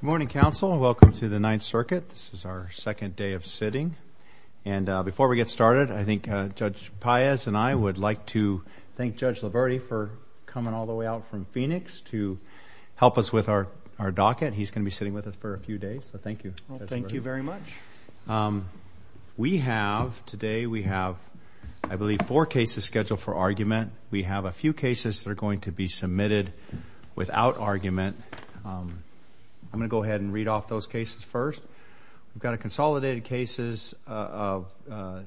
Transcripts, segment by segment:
Good morning, counsel. Welcome to the Ninth Circuit. This is our second day of sitting. And before we get started, I think Judge Paez and I would like to thank Judge Liberti for coming all the way out from Phoenix to help us with our docket. He's going to be sitting with us for a few days, so thank you. Thank you very much. We have today, we have I believe four cases scheduled for argument. We have a few cases that are going to be submitted without argument. I'm going to go ahead and read off those cases first. We've got a consolidated cases of Nava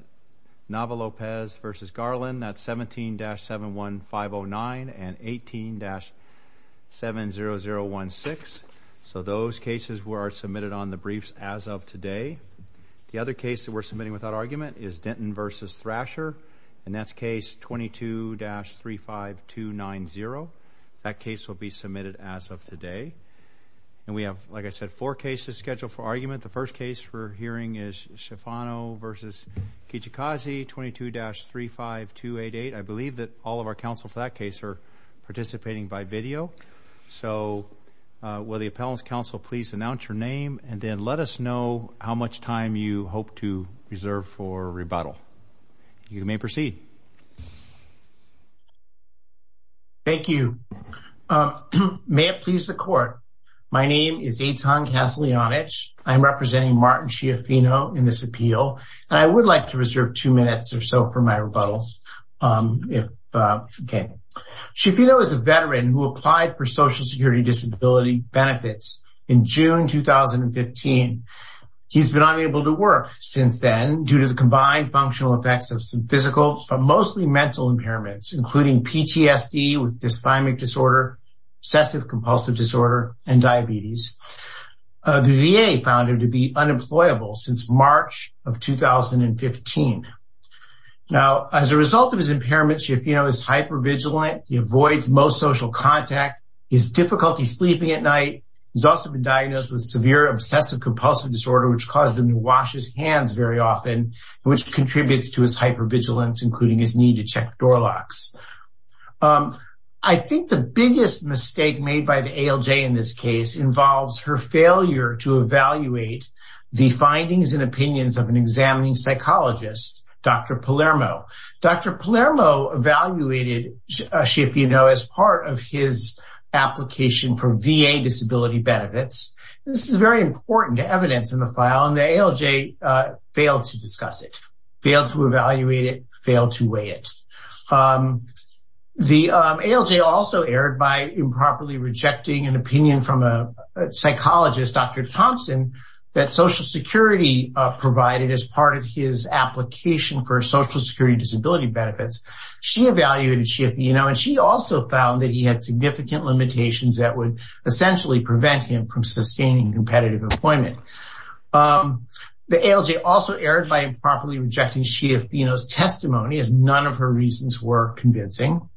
Lopez v. Garland, that's 17-71509 and 18-70016. So those cases were submitted on the briefs as of today. The other case that we're submitting without argument is Denton v. Thrasher, and that's case 22-35290. That case will be submitted as of today. And we have, like I said, four cases scheduled for argument. The first case we're hearing is Shafano v. Kijakazi, 22-35288. I believe that all of our counsel for that case are participating by video. So will the appellant's counsel please announce your name and then let us know how much time you hope to reserve for rebuttal. You may proceed. Thank you. May it please the court, my name is Eitan Kaslianich. I'm representing Martin Shafano in this appeal. I would like to reserve two minutes or so for my rebuttal. Shafano is a veteran who applied for Social Security Disability benefits in June 2015. He's been unable to work since then due to the combined functional effects of some physical, but mostly mental impairments, including PTSD with Dysthymic Disorder, Obsessive Compulsive Disorder, and diabetes. The VA found him to be unemployable since March of 2015. Now, as a result of his impairments, Shafano is hypervigilant. He avoids most social contact. He has difficulty sleeping at night. He's also been diagnosed with severe Obsessive Compulsive Disorder, which causes him to wash his hands very often, which contributes to his hypervigilance, including his need to check door locks. I think the biggest mistake made by the ALJ in this case involves her failure to evaluate the findings and opinions of an examining psychologist, Dr. Palermo. Dr. Palermo evaluated Shafano as part of his application for VA Disability Benefits. This is very important evidence in the file, and the ALJ failed to discuss it, failed to evaluate it, failed to weigh it. The ALJ also erred by improperly rejecting an opinion from a psychologist, Dr. Thompson, that Social Security provided as part of his application for Social Security Disability Benefits. She evaluated Shafano, and she also found that he had significant limitations that would essentially prevent him from sustaining competitive employment. The ALJ also erred by improperly rejecting Shafano's testimony, as none of her reasons were convincing.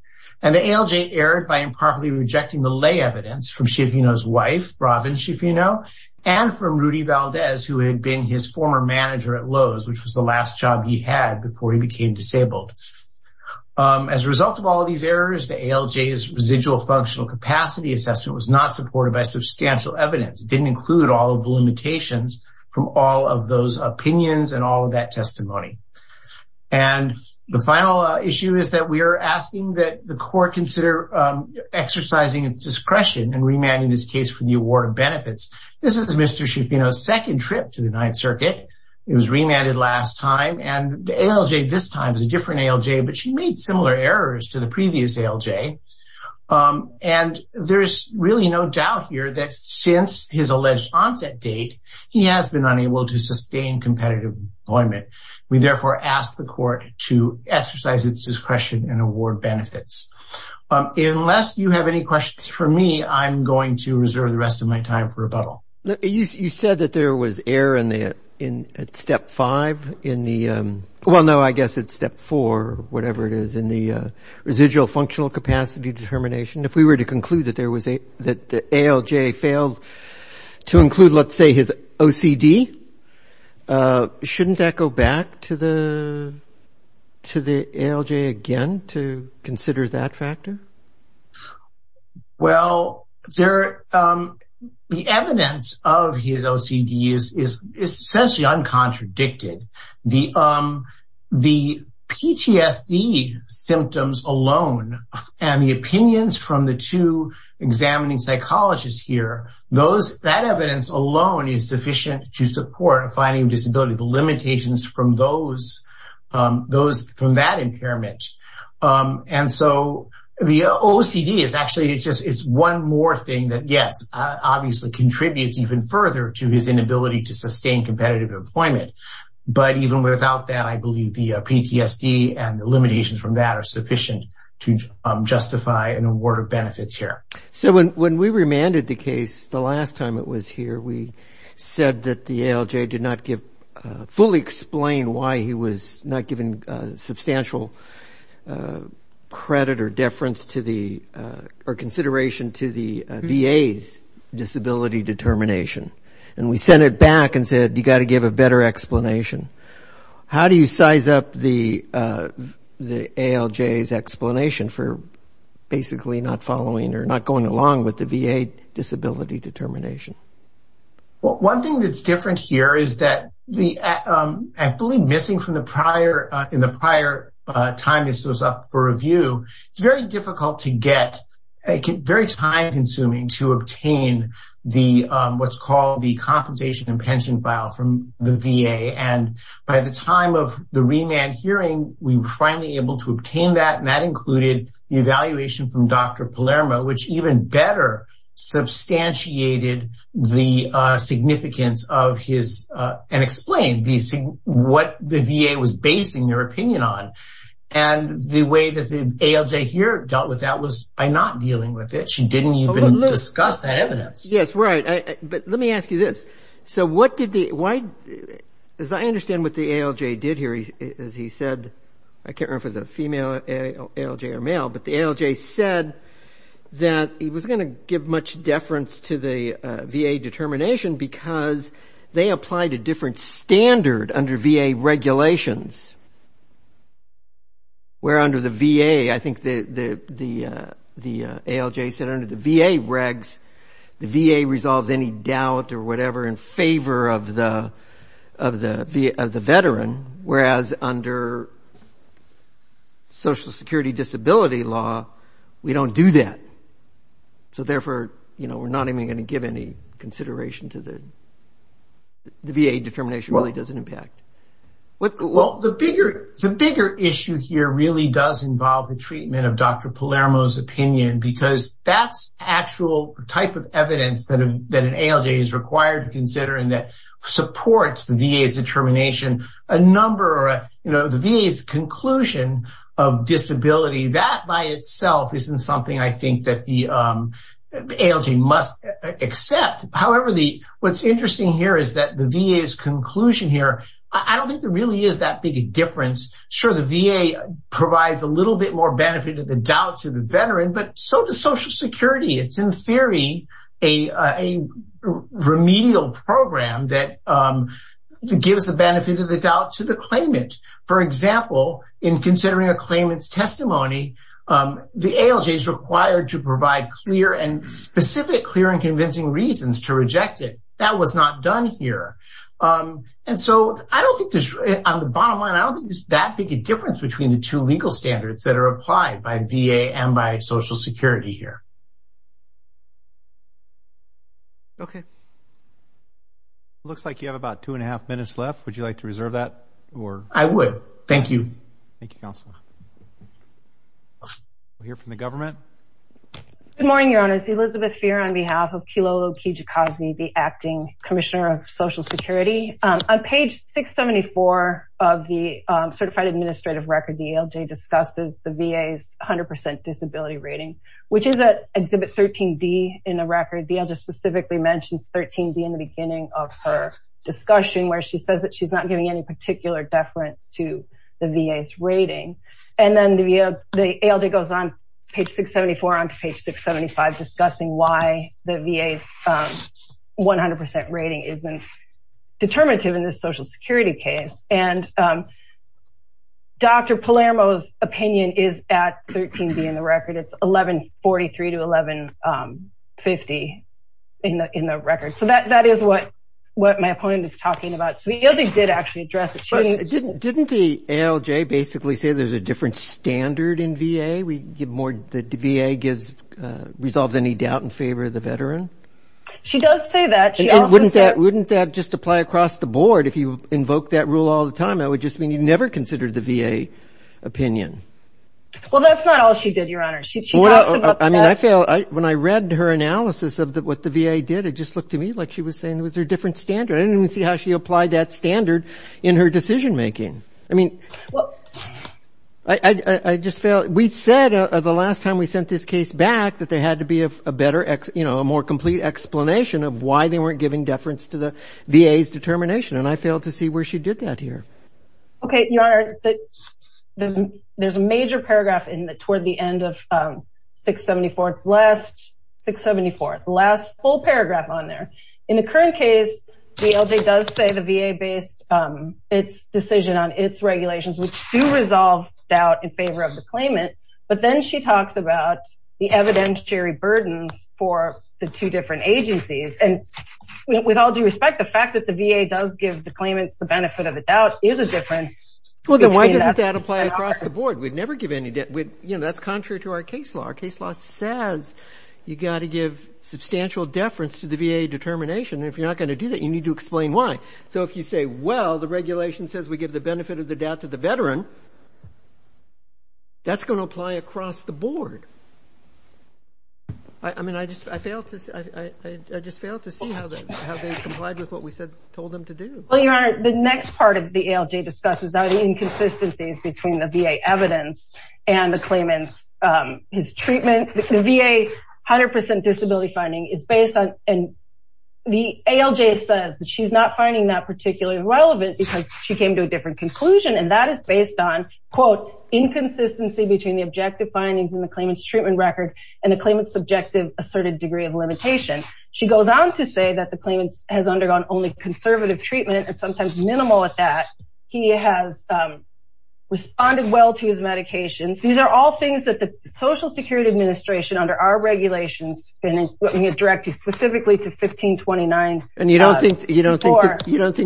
And the ALJ erred by improperly rejecting the lay evidence from Shafano's wife, Robin Shafano, and from Rudy Valdez, who had been his former manager at Lowe's, which was the last job he had before he became disabled. As a result of all of these errors, the ALJ's residual functional capacity assessment was not supported by substantial evidence. It didn't include all of the limitations from all of those opinions and all of that testimony. And the final issue is that we are asking that the court consider exercising its discretion in remanding this case for the award of benefits. This is Mr. Shafano's second trip to the Ninth Circuit. He was remanded last time, and the ALJ this time is a different ALJ, but she made similar errors to the previous ALJ. And there's really no doubt here that since his alleged onset date, he has been unable to sustain competitive employment. We therefore ask the court to exercise its discretion and award benefits. Unless you have any questions for me, I'm going to reserve the rest of my time for rebuttal. You said that there was error in Step 5, well, no, I guess it's Step 4, whatever it is, in the residual functional capacity determination. If we were to conclude that the ALJ failed to include, let's say, his OCD, shouldn't that go back to the ALJ again to consider that factor? Well, the evidence of his OCD is essentially uncontradicted. The PTSD symptoms alone and the opinions from the two examining psychologists here, that evidence alone is sufficient to support a finding of disability, the limitations from that impairment. And so the OCD is actually, it's one more thing that, yes, obviously contributes even further to his inability to sustain competitive employment. But even without that, I believe the PTSD and the limitations from that are sufficient to justify an award of benefits here. So when we remanded the case the last time it was here, we said that the ALJ did not fully explain why he was not given substantial credit or deference or consideration to the VA's disability determination. And we sent it back and said, you got to give a better explanation. How do you size up the ALJ's explanation for basically not following or not along with the VA disability determination? Well, one thing that's different here is that the, I believe, missing from the prior, in the prior time this was up for review, it's very difficult to get, very time consuming to obtain the, what's called the compensation and pension file from the VA. And by the time of the remand hearing, we were finally able to obtain that, and that included the evaluation from Dr. Palermo, which even better substantiated the significance of his, and explained the, what the VA was basing their opinion on. And the way that the ALJ here dealt with that was by not dealing with it. She didn't even discuss that evidence. Yes, right. But let me ask you this. So what did the, why, as I understand what the ALJ did here, as he said, I can't remember if it was a female ALJ or male, but the ALJ said that he was going to give much deference to the VA determination because they applied a different standard under VA regulations, where under the VA, I think the ALJ said under the VA regs, the VA resolves any doubt or whatever in favor of the veteran, whereas under social security disability law, we don't do that. So therefore, you know, we're not even going to give any consideration to the VA determination really doesn't impact. Well, the bigger, the bigger issue here really does involve the treatment of Dr. Palermo's is required to consider and that supports the VA's determination, a number, you know, the VA's conclusion of disability that by itself isn't something I think that the ALJ must accept. However, the what's interesting here is that the VA's conclusion here, I don't think there really is that big a difference. Sure, the VA provides a little bit more benefit to the doubt to the remedial program that gives the benefit of the doubt to the claimant. For example, in considering a claimant's testimony, the ALJ is required to provide clear and specific clear and convincing reasons to reject it. That was not done here. And so, I don't think there's on the bottom line, I don't think there's that big a difference between the two legal standards that are applied by VA and by Social Security here. Okay. Looks like you have about two and a half minutes left. Would you like to reserve that or? I would. Thank you. Thank you, Counselor. We'll hear from the government. Good morning, Your Honors. Elizabeth Feer on behalf of Kilolo Kijikazi, the acting Commissioner of Social Security. On page 674 of the certified administrative record, the ALJ discusses the VA's 100% disability rating, which is at exhibit 13D in the record. The ALJ specifically mentions 13D in the beginning of her discussion where she says that she's not giving any particular deference to the VA's rating. And then the ALJ goes on page 674 onto page 675 discussing why the VA's 100% rating isn't determinative in this Social Security case. And Dr. Palermo's opinion is at 13D in the record. It's 1143 to 1150 in the record. So, that is what my opponent is talking about. So, the ALJ did actually address the change. Didn't the ALJ basically say there's a different standard in VA? The VA resolves any doubt in favor of the veteran? She does say that. Wouldn't that just apply across the board? If you invoke that rule all the time, that would just mean you never considered the VA opinion. Well, that's not all she did, Your Honor. When I read her analysis of what the VA did, it just looked to me like she was saying it was a different standard. I didn't even see how she applied that standard in her decision making. We said the last time we sent this case back that there had to be a better, more complete explanation of why they weren't giving deference to the VA's determination. And I failed to see where she did that here. Okay, Your Honor. There's a major paragraph toward the end of 674. It's the last full paragraph on there. In the current case, the ALJ does say the VA based its decision on its regulations, which do resolve doubt in favor of the claimant. But then she talks about the evidentiary burdens for the two different agencies. And with all due respect, the fact that the VA does give the claimants the benefit of the doubt is a difference. Well, then why doesn't that apply across the board? We'd never give any debt. That's contrary to our case law. Our case law says you got to give substantial deference to the VA determination. And if you're not going to do that, you need to explain why. So if you say, well, the regulation says we give the benefit of the doubt to the claimant. I just failed to see how they complied with what we told them to do. Well, Your Honor, the next part of the ALJ discusses are the inconsistencies between the VA evidence and the claimant's treatment. The VA 100% disability finding is based on and the ALJ says that she's not finding that particularly relevant because she came to a different conclusion. And that is based on, quote, inconsistency between the objective findings in the claimant's treatment record and the claimant's subjective asserted degree of limitation. She goes on to say that the claimant has undergone only conservative treatment and sometimes minimal at that. He has responded well to his medications. These are all things that the Social Security Administration, under our regulations, has directed specifically to 1529. And you don't think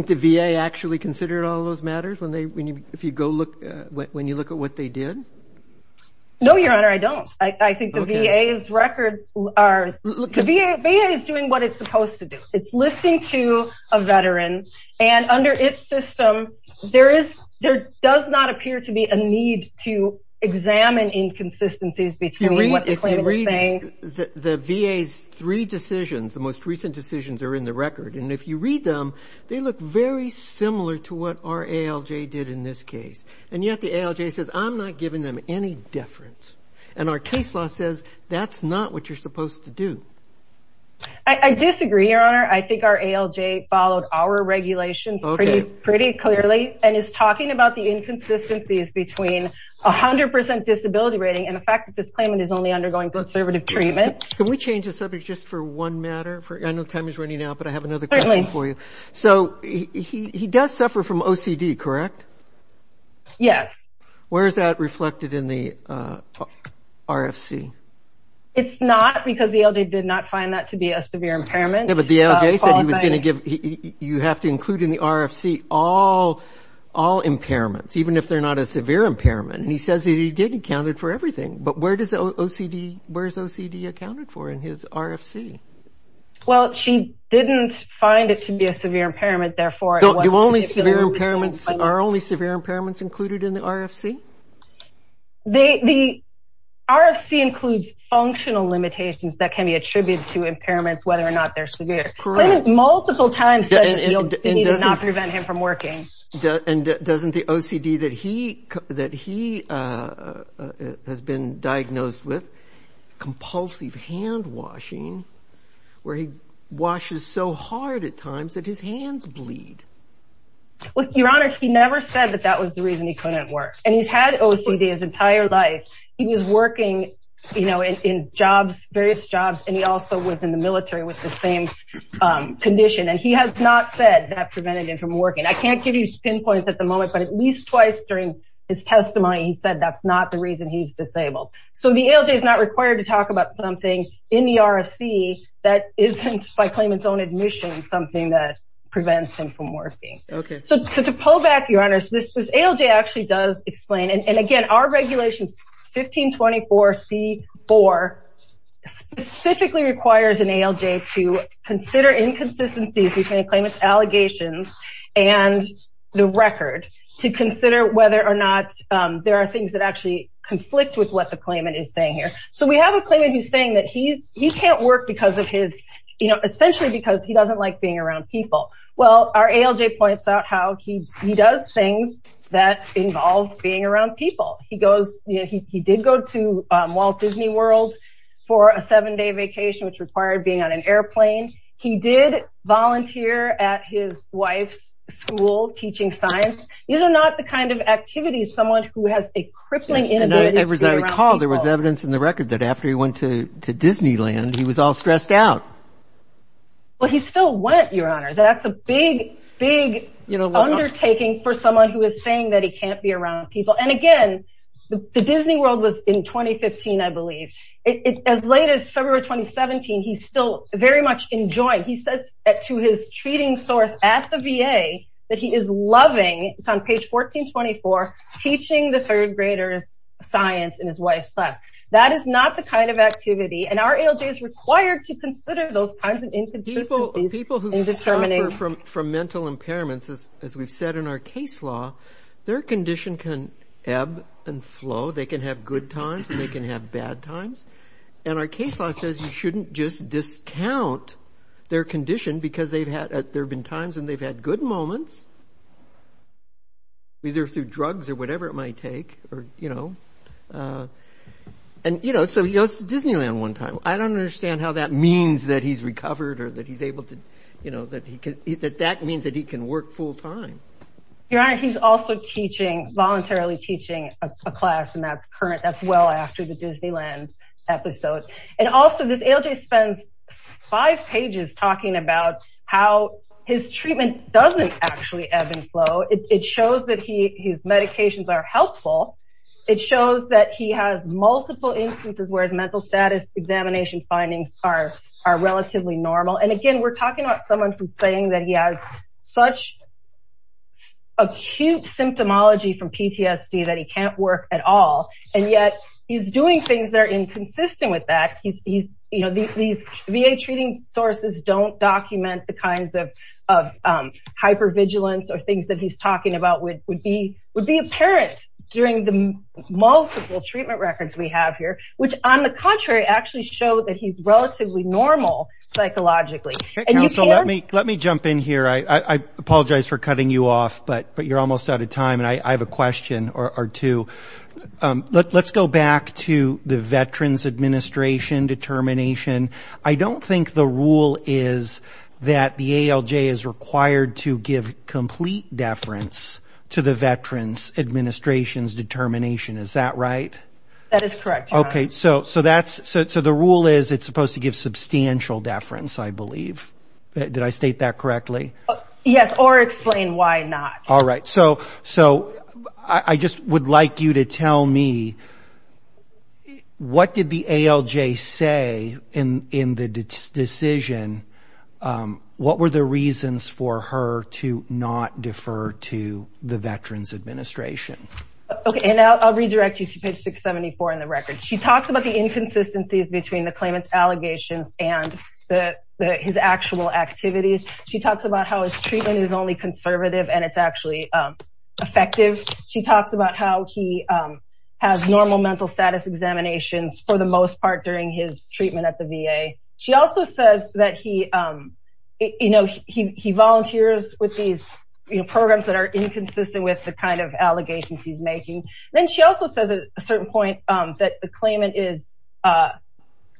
the VA actually considered all those matters when you look at what they did? No, Your Honor, I don't. I think the VA's records are, the VA is doing what it's supposed to do. It's listening to a veteran and under its system, there is, there does not appear to be a need to examine inconsistencies between what the claimant is saying. The VA's three decisions, the most recent decisions are in the record. And if you read them, they look very similar to what our ALJ did in this case. And yet the ALJ says, I'm not giving them any deference. And our case law says that's not what you're supposed to do. I disagree, Your Honor. I think our ALJ followed our regulations pretty clearly and is talking about the inconsistencies between a hundred percent disability rating and the fact that this claimant is only undergoing conservative treatment. Can we change the subject just for one matter? I know time is running out, but I have another question for you. So he does suffer from OCD, correct? Yes. Where is that reflected in the RFC? It's not because the ALJ did not find that to be a severe impairment. Yeah, but the ALJ said he was going to give, you have to include in the RFC all impairments, even if they're not a severe impairment. And he says that he did account for everything. But where does OCD, where's OCD accounted for in his RFC? Well, she didn't find it to be a severe impairment, therefore, Do only severe impairments, are only severe impairments included in the RFC? The RFC includes functional limitations that can be attributed to impairments, whether or not they're severe. The claimant multiple times said that you need to not prevent him from working. And doesn't the OCD that he has been diagnosed with, compulsive hand washing, where he washes so hard at times that his hands bleed? Well, Your Honor, he never said that that was the reason he couldn't work. And he's had OCD his entire life. He was working in jobs, various jobs, and he also was in the military with the same condition. And he has not said that prevented him from working. I can't give you pinpoints at the moment, but at least twice during his testimony, he said that's not the reason he's that isn't by claimant's own admission, something that prevents him from working. Okay. So to pull back, Your Honor, this ALJ actually does explain. And again, our regulations 1524 C4 specifically requires an ALJ to consider inconsistencies between a claimant's allegations and the record to consider whether or not there are things that actually conflict with what the because of his, you know, essentially because he doesn't like being around people. Well, our ALJ points out how he does things that involve being around people. He goes, you know, he did go to Walt Disney World for a seven-day vacation, which required being on an airplane. He did volunteer at his wife's school teaching science. These are not the kind of activities someone who has a crippling inability to be around people. And as I recall, there was evidence in the record that after he went to Disneyland, he was all stressed out. Well, he still went, Your Honor. That's a big, big undertaking for someone who is saying that he can't be around people. And again, the Disney World was in 2015, I believe. As late as February 2017, he's still very much enjoying. He says to his treating source at the VA that he is loving, it's on page 1424, teaching the third graders science in his wife's class. That is not the kind of activity. And our ALJ is required to consider those kinds of inconsistencies. People who suffer from mental impairments, as we've said in our case law, their condition can ebb and flow. They can have good times and they can have bad times. And our case law says you shouldn't just discount their condition because there have been times when they've had good moments, either through drugs or whatever it might take. So he goes to Disneyland one time. I don't understand how that means that he's recovered or that that means that he can work full time. Your Honor, he's also teaching, voluntarily teaching a class, and that's current. That's well after the Disneyland episode. And also this ALJ spends five pages talking about how his treatment doesn't actually ebb and flow. It shows that his medications are helpful. It shows that he has multiple instances where the mental status examination findings are relatively normal. And again, we're talking about someone who's saying that he has such acute symptomology from PTSD that he can't work at all. And yet he's doing things that are of hypervigilance or things that he's talking about would be apparent during the multiple treatment records we have here, which on the contrary, actually show that he's relatively normal psychologically. Let me jump in here. I apologize for cutting you off, but you're almost out of time. And I have a question or two. Let's go back to the Veterans Administration determination. I don't think the rule is that the ALJ is required to give complete deference to the Veterans Administration's determination. Is that right? That is correct. Okay. So the rule is it's supposed to give substantial deference, I believe. Did I state that correctly? Yes. Or explain why not. All right. So I just would like you to tell me what did the ALJ say in the decision? What were the reasons for her to not defer to the Veterans Administration? Okay. And I'll redirect you to page 674 in the record. She talks about the inconsistencies between the claimant's allegations and his actual activities. She talks about how his and it's actually effective. She talks about how he has normal mental status examinations for the most part during his treatment at the VA. She also says that he volunteers with these programs that are inconsistent with the kind of allegations he's making. Then she also says at a certain point that the claimant is,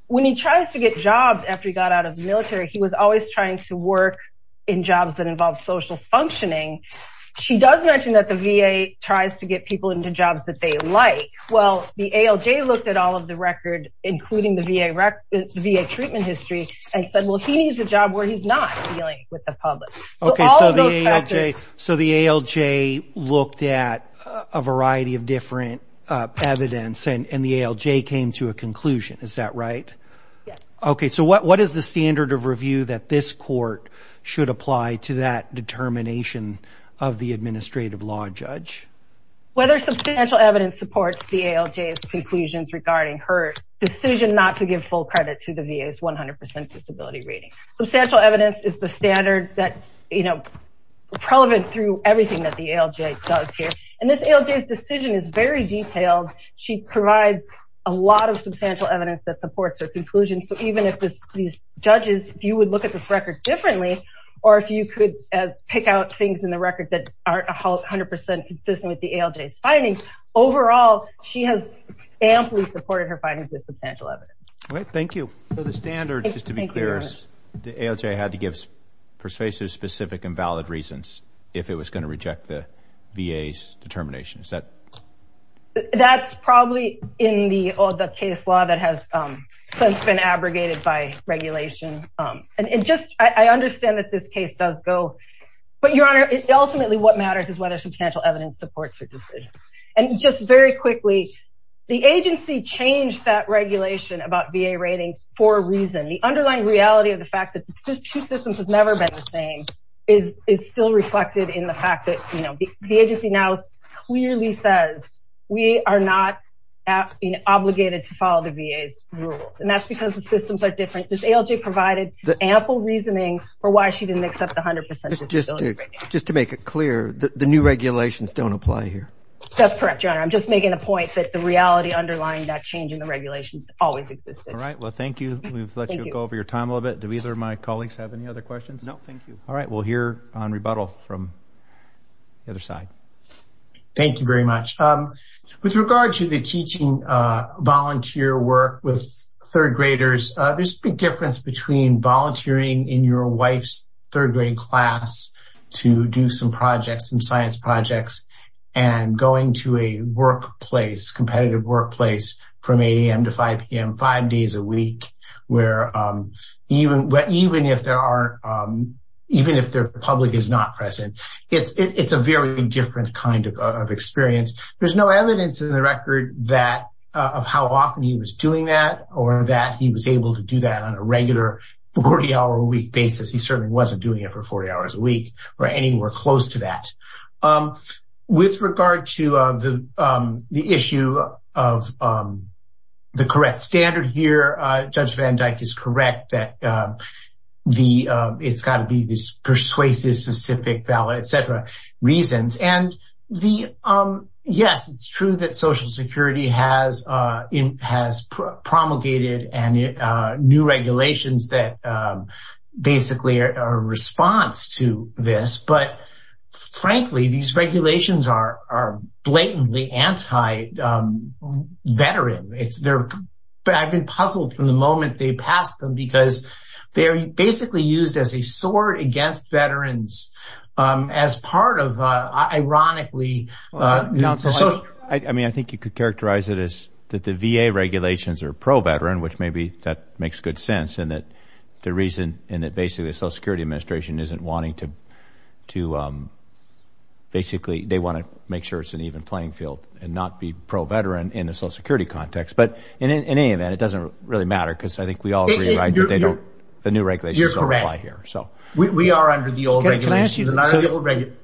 when he tries to get jobs after he She does mention that the VA tries to get people into jobs that they like. Well, the ALJ looked at all of the record, including the VA treatment history, and said, well, he needs a job where he's not dealing with the public. Okay. So the ALJ looked at a variety of different evidence and the ALJ came to a conclusion. Is that the ALJ's conclusions regarding her decision not to give full credit to the VA's 100% disability rating? Substantial evidence is the standard that's, you know, relevant through everything that the ALJ does here. And this ALJ's decision is very detailed. She provides a lot of substantial evidence that supports her conclusion. So even if these judges, you would look at this record differently, or if you could pick out things in the record that aren't 100% consistent with the ALJ's findings, overall, she has amply supported her findings with substantial evidence. All right. Thank you. So the standard, just to be clear, is the ALJ had to give persuasive, specific, and valid reasons if it was going to reject the VA's determination. Is that? That's probably in the case law that has since been abrogated by regulation. And just, I understand that this case does go, but Your Honor, ultimately what matters is whether substantial evidence supports your decision. And just very quickly, the agency changed that regulation about VA ratings for a reason. The underlying reality of the fact that these two systems have never been the same is still reflected in the fact that, you know, the agency now clearly says, we are not obligated to follow the VA's rules. And that's because the systems are different. This ALJ provided ample reasoning for why she didn't accept the 100% disability rating. Just to make it clear, the new regulations don't apply here. That's correct, Your Honor. I'm just making a point that the reality underlying that change in the regulations always existed. All right. Well, thank you. We've let you go over your time a little bit. Do either of my colleagues have any other questions? No, thank you. All right. We'll hear on rebuttal from the other side. Thank you very much. With regard to the teaching volunteer work with third graders, there's a big difference between volunteering in your wife's third grade class to do some projects, some science projects, and going to a workplace, competitive workplace, from 8 a.m. to 5 p.m., five days a week, where even if there are, even if the public is not present, it's a very different kind of experience. There's no evidence in the record of how often he was doing that or that he was able to do that on a regular 40-hour-a-week basis. He certainly wasn't doing it for 40 hours a week or anywhere close to that. With regard to the issue of the correct standard here, Judge Van Dyke is correct that the it's got to be this persuasive, specific, valid, etc. reasons. Yes, it's true that Social Security has promulgated new regulations that basically are a response to this, but frankly, these regulations are blatantly anti-veteran. I've been puzzled from the moment they passed them because they're basically used as a sword against veterans, as part of, ironically. I mean, I think you could characterize it as that the VA regulations are pro-veteran, which maybe that makes good sense, and that the reason, and that basically the Social Security Administration isn't wanting to basically, they want to make sure it's an even playing field and not be pro-veteran in the Social Security context. In any event, it doesn't really matter because I think we all agree that the new regulations don't apply here. You're correct. We are under the old regulations.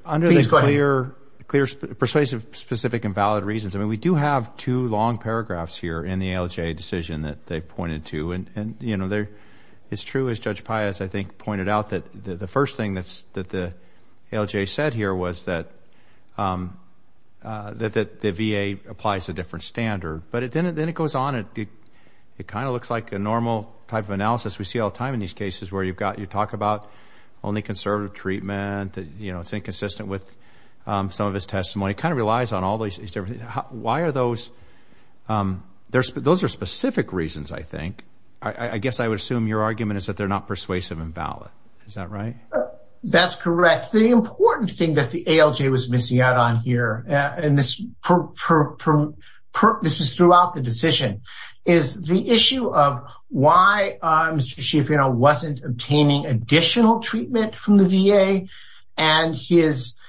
Under the clear, persuasive, specific, and valid reasons, I mean, we do have two long paragraphs here in the ALJ decision that they've pointed to. It's true, as Judge Pius, I think, pointed out, the first thing that the ALJ said here was that the VA applies a different standard, but then it goes on. It kind of looks like a normal type of analysis we see all the time in these cases where you've got, you talk about only conservative treatment, you know, it's inconsistent with some of his testimony. It kind of relies on all these different, why are those, those are specific reasons, I think. I guess I would assume your argument is that they're not persuasive and valid. Is that right? That's correct. The important thing that the ALJ was missing out on here, and this is throughout the decision, is the issue of why Mr. Schiaffino wasn't obtaining additional treatment from the VA and his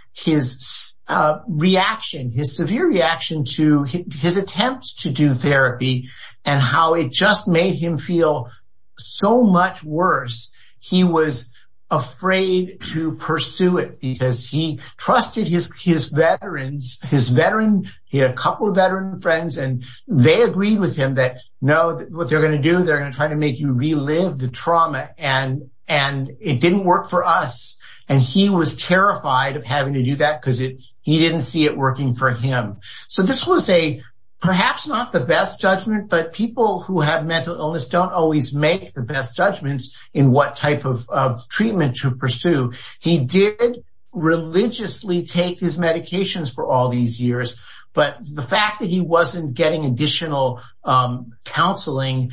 reaction, his severe reaction to his attempts to do therapy, and how it just made him feel so much worse. He was afraid to pursue it because he trusted his veterans, his veteran, he had a couple of veteran friends, and they agreed with him that, no, what they're going to do, they're going to try to make you relive the trauma, and it didn't work for us. And he was terrified of having to do that because he didn't see it perhaps not the best judgment, but people who have mental illness don't always make the best judgments in what type of treatment to pursue. He did religiously take his medications for all these years, but the fact that he wasn't getting additional counseling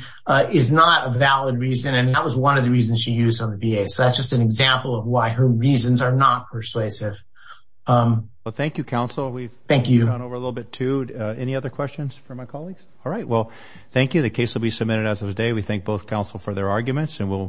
is not a valid reason, and that was one of the reasons she used on the VA. So, that's just an example of why her reasons are not persuasive. Well, thank you, counsel. Thank you. We've gone over a little bit too. Any other questions for my colleagues? All right. Well, thank you. The case will be submitted as of today. We thank both counsel for their arguments, and we'll